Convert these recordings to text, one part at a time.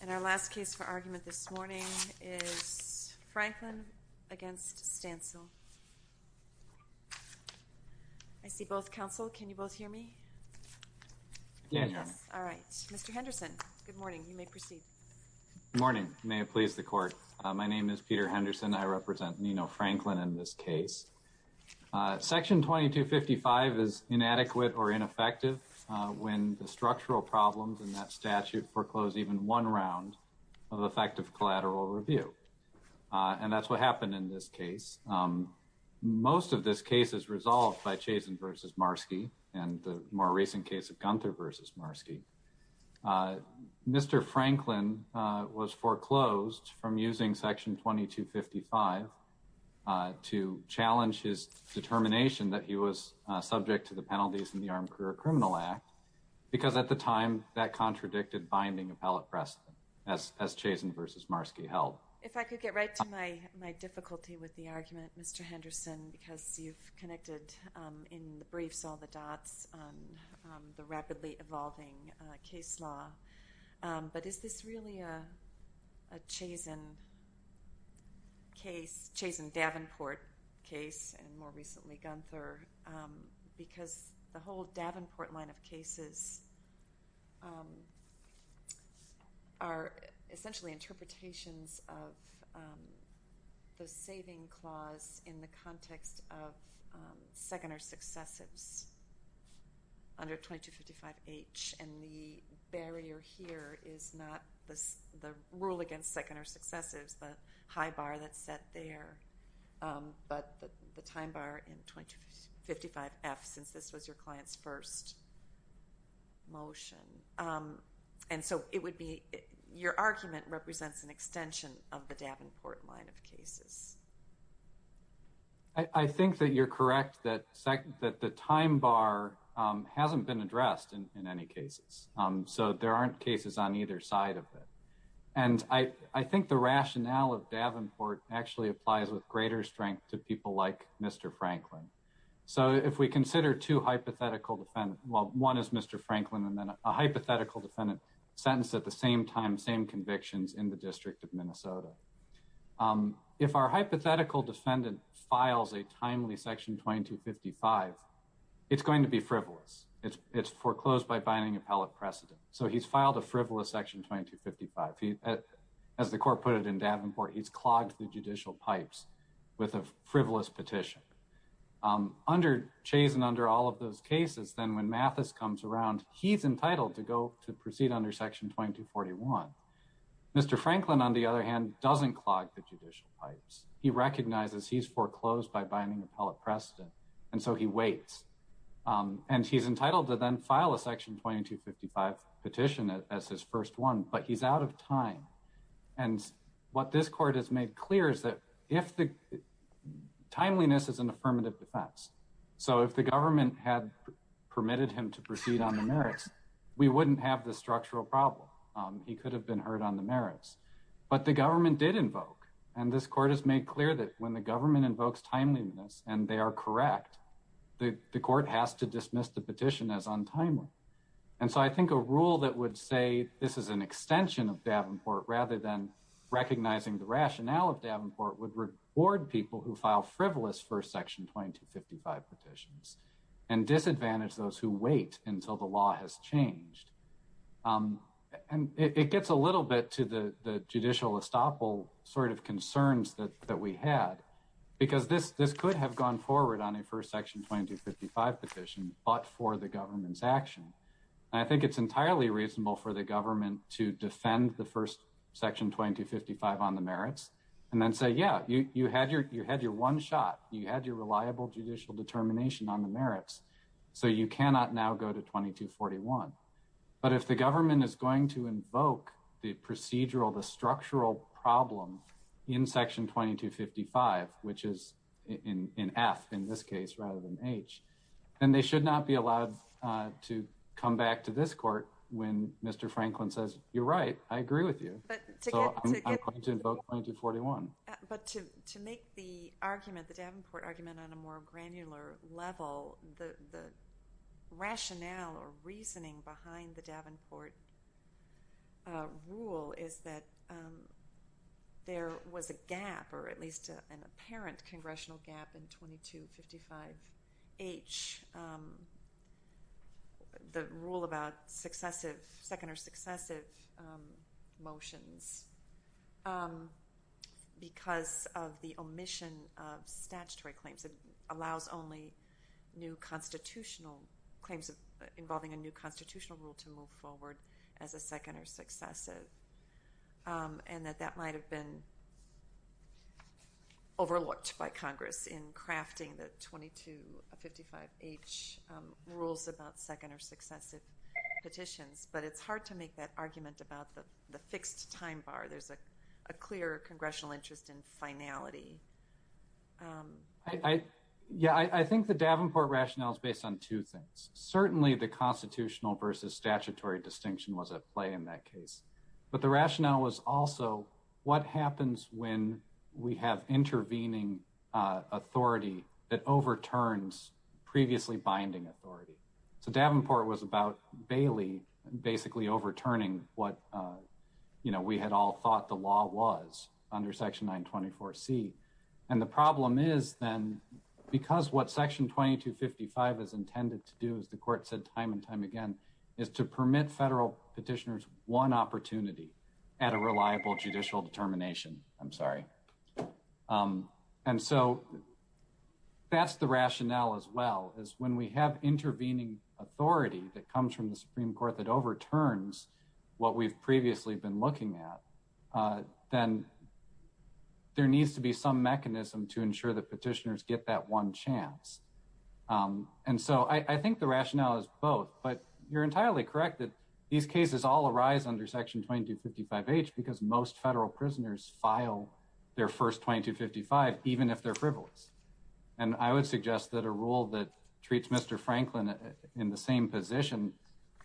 And our last case for argument this morning is Franklin v. Stancil. I see both counsel. Can you both hear me? Yes. All right. Mr. Henderson, good morning. You may proceed. Good morning. May it please the court. My name is Peter Henderson. I represent Nino Franklin in this case. Section 2255 is inadequate or ineffective when the structural problems in that statute foreclose even one round of effective collateral review. And that's what happened in this case. Most of this case is resolved by Chazin v. Marski and the more recent case of Gunther v. Marski. Mr. Franklin was foreclosed from using Section 2255 to challenge his determination that he was subject to the penalties in the Armed Career Criminal Act because at the time that contradicted binding appellate precedent as Chazin v. Marski held. If I could get right to my difficulty with the argument, Mr. Henderson, because you've connected in the briefs all the dots on the rapidly evolving case law, but is this really a Chazin case, Chazin-Davenport case, and more recently Gunther, because the whole Davenport line of cases are essentially interpretations of the saving clause in the context of second or successives under 2255H, and the barrier here is not the rule against second or successives, the high bar that's set there, but the time bar in 2255F, since this was your client's first motion, and so it would be your argument represents an extension of the Davenport line of cases. I think that you're correct that the time bar hasn't been addressed in any cases, so there aren't cases on either side of it, and I think the rationale of Davenport actually applies with greater strength to people like Mr. Franklin. So if we consider two hypothetical defendants, well, one is Mr. Franklin and then a hypothetical defendant sentenced at the same time, same convictions in the District of Minnesota. If our hypothetical defendant files a timely Section 2255, it's going to be frivolous. It's foreclosed by binding appellate precedent, so he's filed a frivolous Section 2255. As the Court put it in Davenport, he's clogged the judicial pipes with a frivolous petition. Chasen under all of those cases, then when Mathis comes around, he's entitled to go to proceed under Section 2241. Mr. Franklin, on the other hand, doesn't clog the judicial pipes. He recognizes he's foreclosed by binding appellate precedent, and so he waits, and he's entitled to then file a Section 2255 petition as his first one, but he's out of time, and what this Court has made clear is that if the timeliness is an affirmative defense, so if the government had permitted him to proceed on the merits, we wouldn't have this structural problem. He could have been heard on the merits, but the government did invoke, and this Court has made clear that when the government invokes timeliness and they are correct, the Court has to dismiss the petition as untimely, and so I think a rule that would say this is an extension of Davenport rather than recognizing the rationale of Davenport would reward people who file frivolous First Section 2255 petitions and disadvantage those who wait until the law has changed, and it gets a little bit to the judicial estoppel of concerns that we had because this could have gone forward on a First Section 2255 petition, but for the government's action, and I think it's entirely reasonable for the government to defend the First Section 2255 on the merits and then say, yeah, you had your one shot. You had your reliable judicial determination on the merits, so you cannot now go to 2241, but if the government is going to invoke the procedural, the structural problem in Section 2255, which is in F in this case rather than H, then they should not be allowed to come back to this Court when Mr. Franklin says, you're right, I agree with you, so I'm going to invoke 2241. But to make the argument, the Davenport rule is that there was a gap, or at least an apparent congressional gap in 2255H, the rule about successive, second or successive motions, because of the omission of statutory claims. It allows only new constitutional claims involving a new constitutional rule to move forward as a second or successive, and that that might have been overlooked by Congress in crafting the 2255H rules about second or successive petitions, but it's hard to make that argument about the fixed time bar. There's a clear congressional interest in finality. Yeah, I think the Davenport rationale is based on two things. Certainly the constitutional versus statutory distinction was at play in that case, but the rationale was also what happens when we have intervening authority that overturns previously binding authority. So Davenport was about Bailey basically overturning what we had all thought the law was under Section 924C. And the problem is then, because what Section 2255 is intended to do, as the Court said time and time again, is to permit federal petitioners one opportunity at a reliable judicial determination. I'm sorry. And so that's the rationale as well, is when we have intervening authority that comes from the Supreme Court that overturns what we've previously been looking at, then there needs to be some mechanism to ensure that petitioners get that one chance. And so I think the rationale is both, but you're entirely correct that these cases all arise under Section 2255H because most federal prisoners file their first 2255 even if they're frivolous. And I would suggest that a rule that treats Mr. Franklin in the same position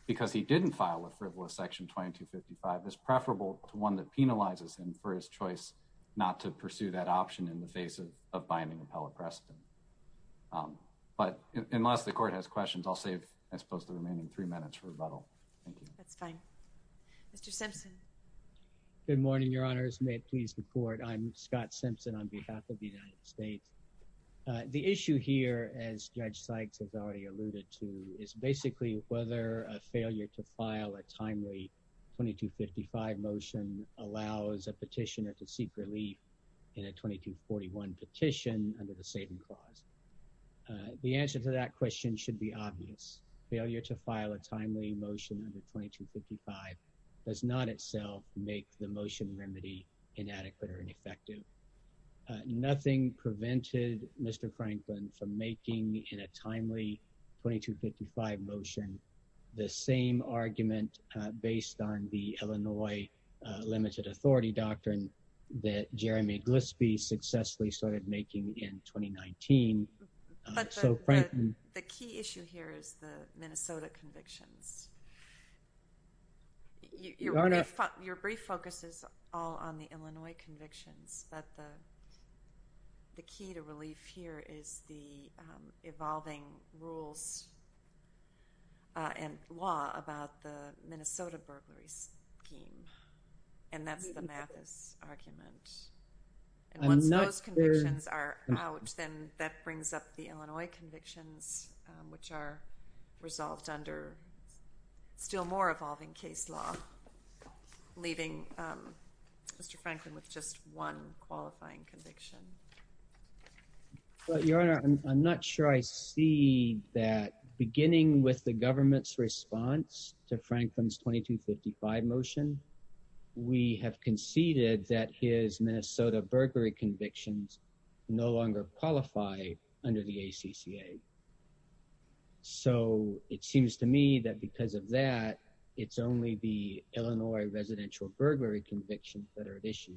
because he didn't file a frivolous Section 2255 is preferable to one that penalizes him for his choice not to pursue that option in the face of binding appellate precedent. But unless the Court has questions, I'll save, I suppose, the remaining minutes for rebuttal. Thank you. That's fine. Mr. Simpson. Good morning, Your Honors. May it please the Court. I'm Scott Simpson on behalf of the United States. The issue here, as Judge Sykes has already alluded to, is basically whether a failure to file a timely 2255 motion allows a petitioner to seek relief in a 2241 petition under the Saving Clause. The answer to that question should be obvious. Failure to file a timely motion under 2255 does not itself make the motion remedy inadequate or ineffective. Nothing prevented Mr. Franklin from making in a timely 2255 motion the same argument based on the Illinois limited authority doctrine that Jeremy Glispie successfully started making in 2019. But the key issue here is the Minnesota convictions. Your brief focus is all on the Illinois convictions, but the key to relief here is the evolving rules and law about the Minnesota burglary scheme, and that's the Mathis argument. And once those convictions are out, then that brings up the Illinois convictions, which are resolved under still more evolving case law, leaving Mr. Franklin with just one qualifying conviction. Your Honor, I'm not sure I see that beginning with the government's response to Franklin's 2255 motion. We have conceded that his Minnesota burglary convictions no longer qualify under the ACCA. So it seems to me that because of that, it's only the Illinois residential burglary convictions that are at issue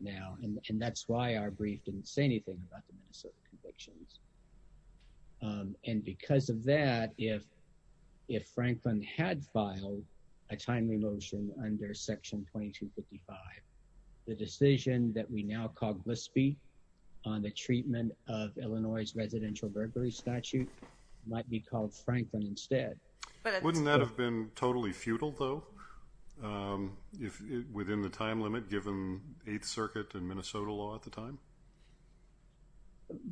now, and that's why our brief didn't say anything about the Minnesota convictions. And because of that, if Franklin had filed a timely motion under section 2255, the decision that we now call Glispie on the treatment of Illinois' residential burglary statute might be called Franklin instead. Wouldn't that have been totally futile, though, within the time limit given 8th Circuit and Minnesota law at the time?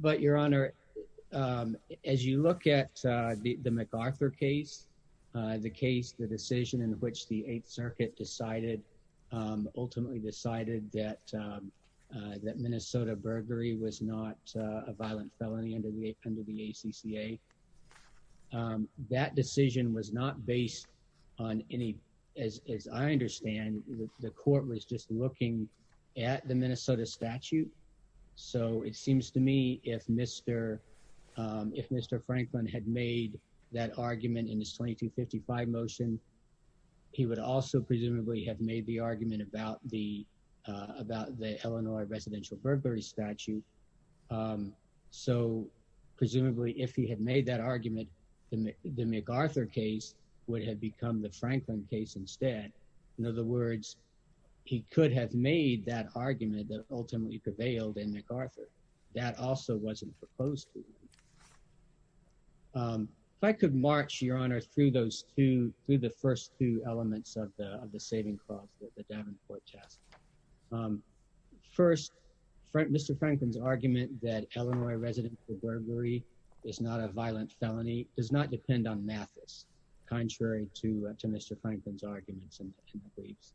But, Your Honor, as you look at the MacArthur case, the case, the decision in which the 8th Circuit ultimately decided that Minnesota burglary was not a violent felony under the ACCA, that decision was not based on any, as I understand, the court was just looking at the Minnesota statute. So it seems to me if Mr. Franklin had made that argument in his 2255 motion, he would also presumably have made the argument about the Illinois residential burglary statute. So presumably, if he had made that argument, the MacArthur case would have become the Franklin case instead. In other words, he could have made that argument that ultimately prevailed in MacArthur. That also wasn't proposed to him. If I could march, Your Honor, through those two, through the first two elements of the saving clause, the Davenport test. First, Mr. Franklin's argument that Illinois residential burglary is not a violent felony does not depend on Mathis, contrary to Mr. Franklin's arguments and beliefs.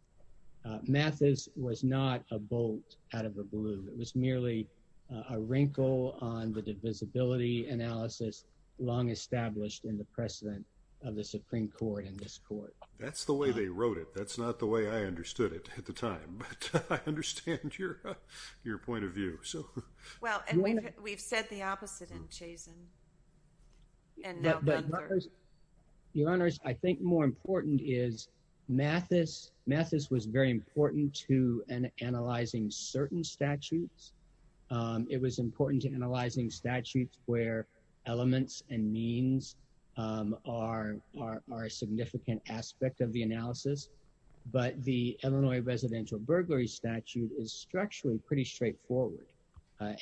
Mathis was not a bolt out of the blue. It was merely a wrinkle on the divisibility analysis long established in the precedent of the Supreme Court in this court. That's the way they wrote it. That's not the way I understood it at the time, but I understand your point of view. Well, and we've said the opposite in Chazen and now Gunther. Your Honors, I think more important is Mathis. Mathis was very important to analyzing certain statutes. It was important to analyzing statutes where elements and means are a significant aspect of the analysis, but the Illinois residential burglary statute is structurally pretty straightforward.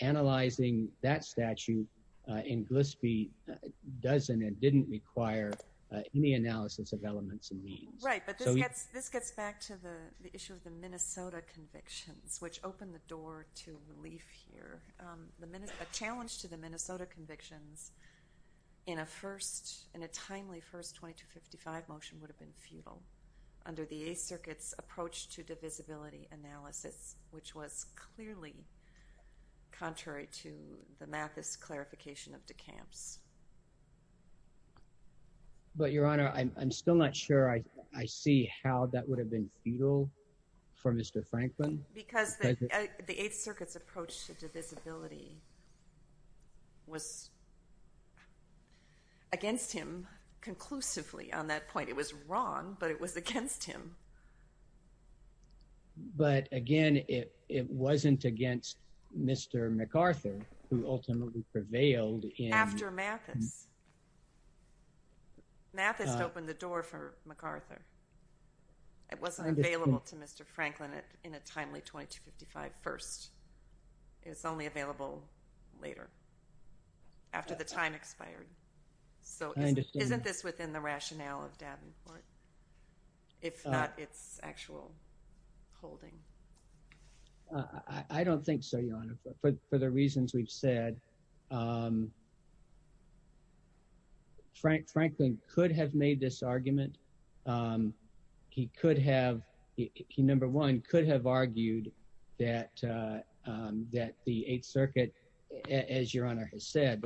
Analyzing that statute in Glispie doesn't and didn't require any analysis of elements and means. Right, but this gets back to the issue of the Minnesota convictions, which opened the door to relief here. A challenge to the Minnesota convictions in a first, in a timely first 2255 motion would have been futile under the Eighth Circuit's approach to divisibility analysis, which was clearly contrary to the Mathis clarification of de Camp's. But Your Honor, I'm still not sure I see how that would have been futile for Mr. MacArthur. It was against him conclusively on that point. It was wrong, but it was against him. But again, it wasn't against Mr. MacArthur who ultimately prevailed. After Mathis. Mathis opened the door for MacArthur. It wasn't available to Mr. Franklin in a timely 2255 first. It's only available later, after the time expired. So isn't this within the rationale of Davenport, if not its actual holding? I don't think so, Your Honor. For the reasons we've said, Franklin could have made this argument. He could have, he number one, could have argued that the Eighth Circuit, as Your Honor has said.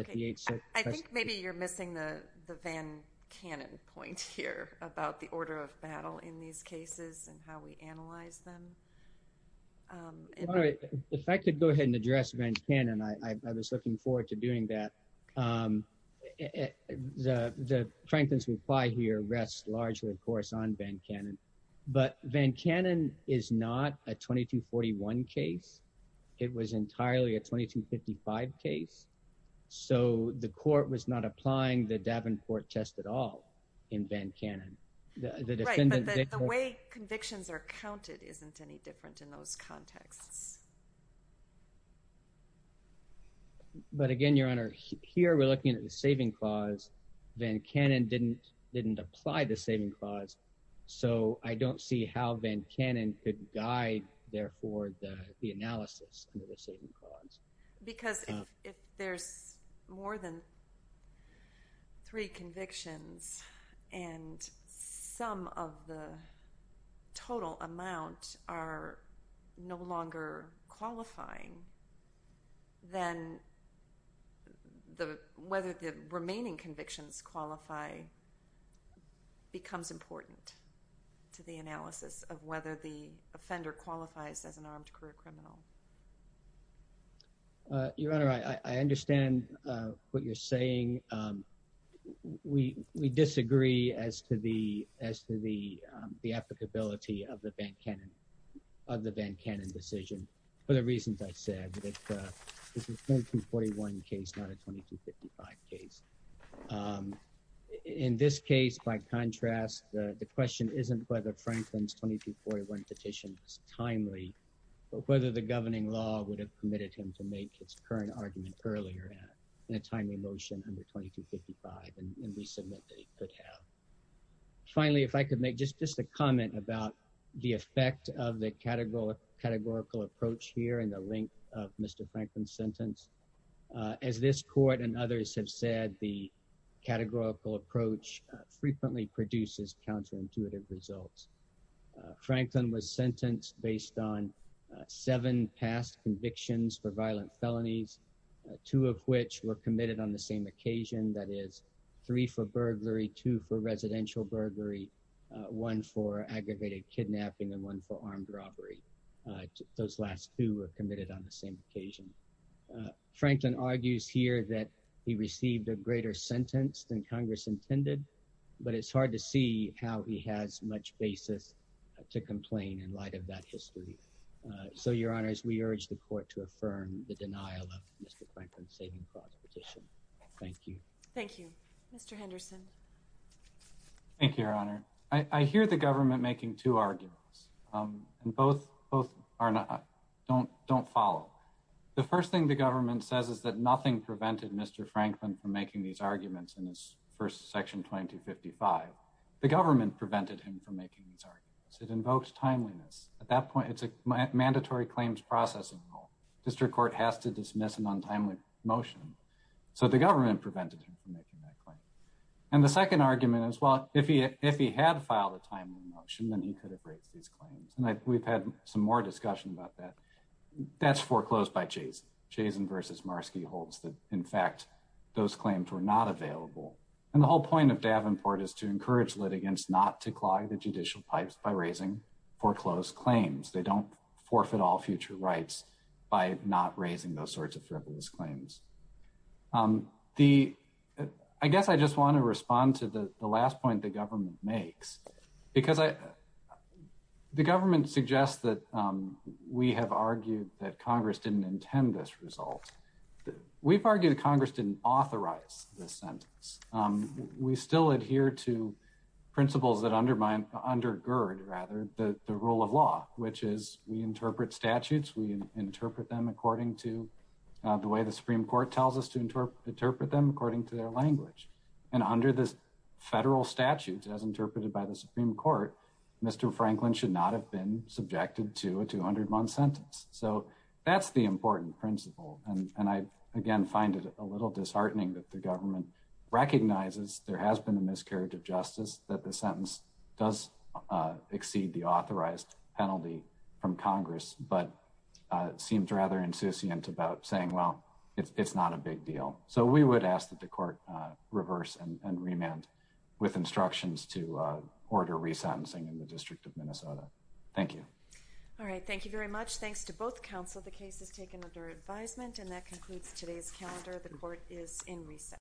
I think maybe you're missing the the Van Cannon point here about the order of battle in these cases and how we analyze them. All right, if I could go ahead and address Van Cannon. I was looking forward to doing that. The Franklin's reply here rests largely, of course, on Van Cannon. But Van Cannon is not a 2241 case. It was entirely a 2255 case. So the court was not applying the Davenport test at all in Van Cannon. The way convictions are counted isn't any different in those contexts. But again, Your Honor, here we're looking at the saving clause. Van Cannon didn't apply the guide, therefore, the analysis under the saving clause. Because if there's more than three convictions and some of the total amount are no longer qualifying, then whether the remaining convictions qualify becomes important to the analysis of whether the offender qualifies as an armed career criminal. Your Honor, I understand what you're saying. We disagree as to the applicability of the Van Cannon decision for the reasons I said. This is a 2241 case, not a 2255 case. In this case, by contrast, the question isn't whether it's timely, but whether the governing law would have permitted him to make its current argument earlier in a timely motion under 2255. And we submit that he could have. Finally, if I could make just a comment about the effect of the categorical approach here and the length of Mr. Franklin's sentence. As this court and others have said, the categorical approach frequently produces counterintuitive results. Franklin was sentenced based on seven past convictions for violent felonies, two of which were committed on the same occasion. That is three for burglary, two for residential burglary, one for aggravated kidnapping, and one for armed robbery. Those last two were committed on the same occasion. Franklin argues here that he received a greater sentence than Congress intended, but it's hard to see how he has much basis to complain in light of that history. So, Your Honor, we urge the court to affirm the denial of Mr. Franklin's saving cause petition. Thank you. Thank you. Mr. Henderson. Thank you, Your Honor. I hear the government making two arguments, and both don't follow. The first thing the government says is that nothing prevented Mr. Franklin from making these arguments in his first section 2255. The government prevented him from making these arguments. It invokes timeliness. At that point, it's a mandatory claims processing rule. District court has to dismiss an untimely motion. So the government prevented him from making that claim. And the second argument is, well, if he had filed a timely motion, then he could have raised these claims. And we've had some more discussion about that. That's foreclosed by Chazen. Chazen v. Marski holds that, in fact, those claims were not available. And the whole point of Davenport is to encourage litigants not to clog the judicial pipes by raising foreclosed claims. They don't forfeit all future rights by not raising those sorts of frivolous claims. I guess I just want to respond to the last point the government makes, because the government suggests that we have argued that Congress didn't intend this result. We've argued Congress didn't authorize this sentence. We still adhere to principles that undermine, undergird rather, the rule of law, which is we interpret statutes, we interpret them according to the way the Supreme Court tells us to interpret them according to their language. And under the federal statutes, as interpreted by the Supreme Court, Mr. Franklin should not have been subjected to a 200-month sentence. So that's the important principle. And I, again, find it a little disheartening that the government recognizes there has been a miscarriage of justice, that the sentence does exceed the authorized penalty from Congress, but seems rather insouciant about saying, well, it's not a big deal. So we would ask that the court reverse and remand with instructions to order re-sentencing in the District of Minnesota. Thank you. All right. Thank you very much. Thanks to both counsel. The case is taken under advisement. And that concludes today's calendar. The court is in recess.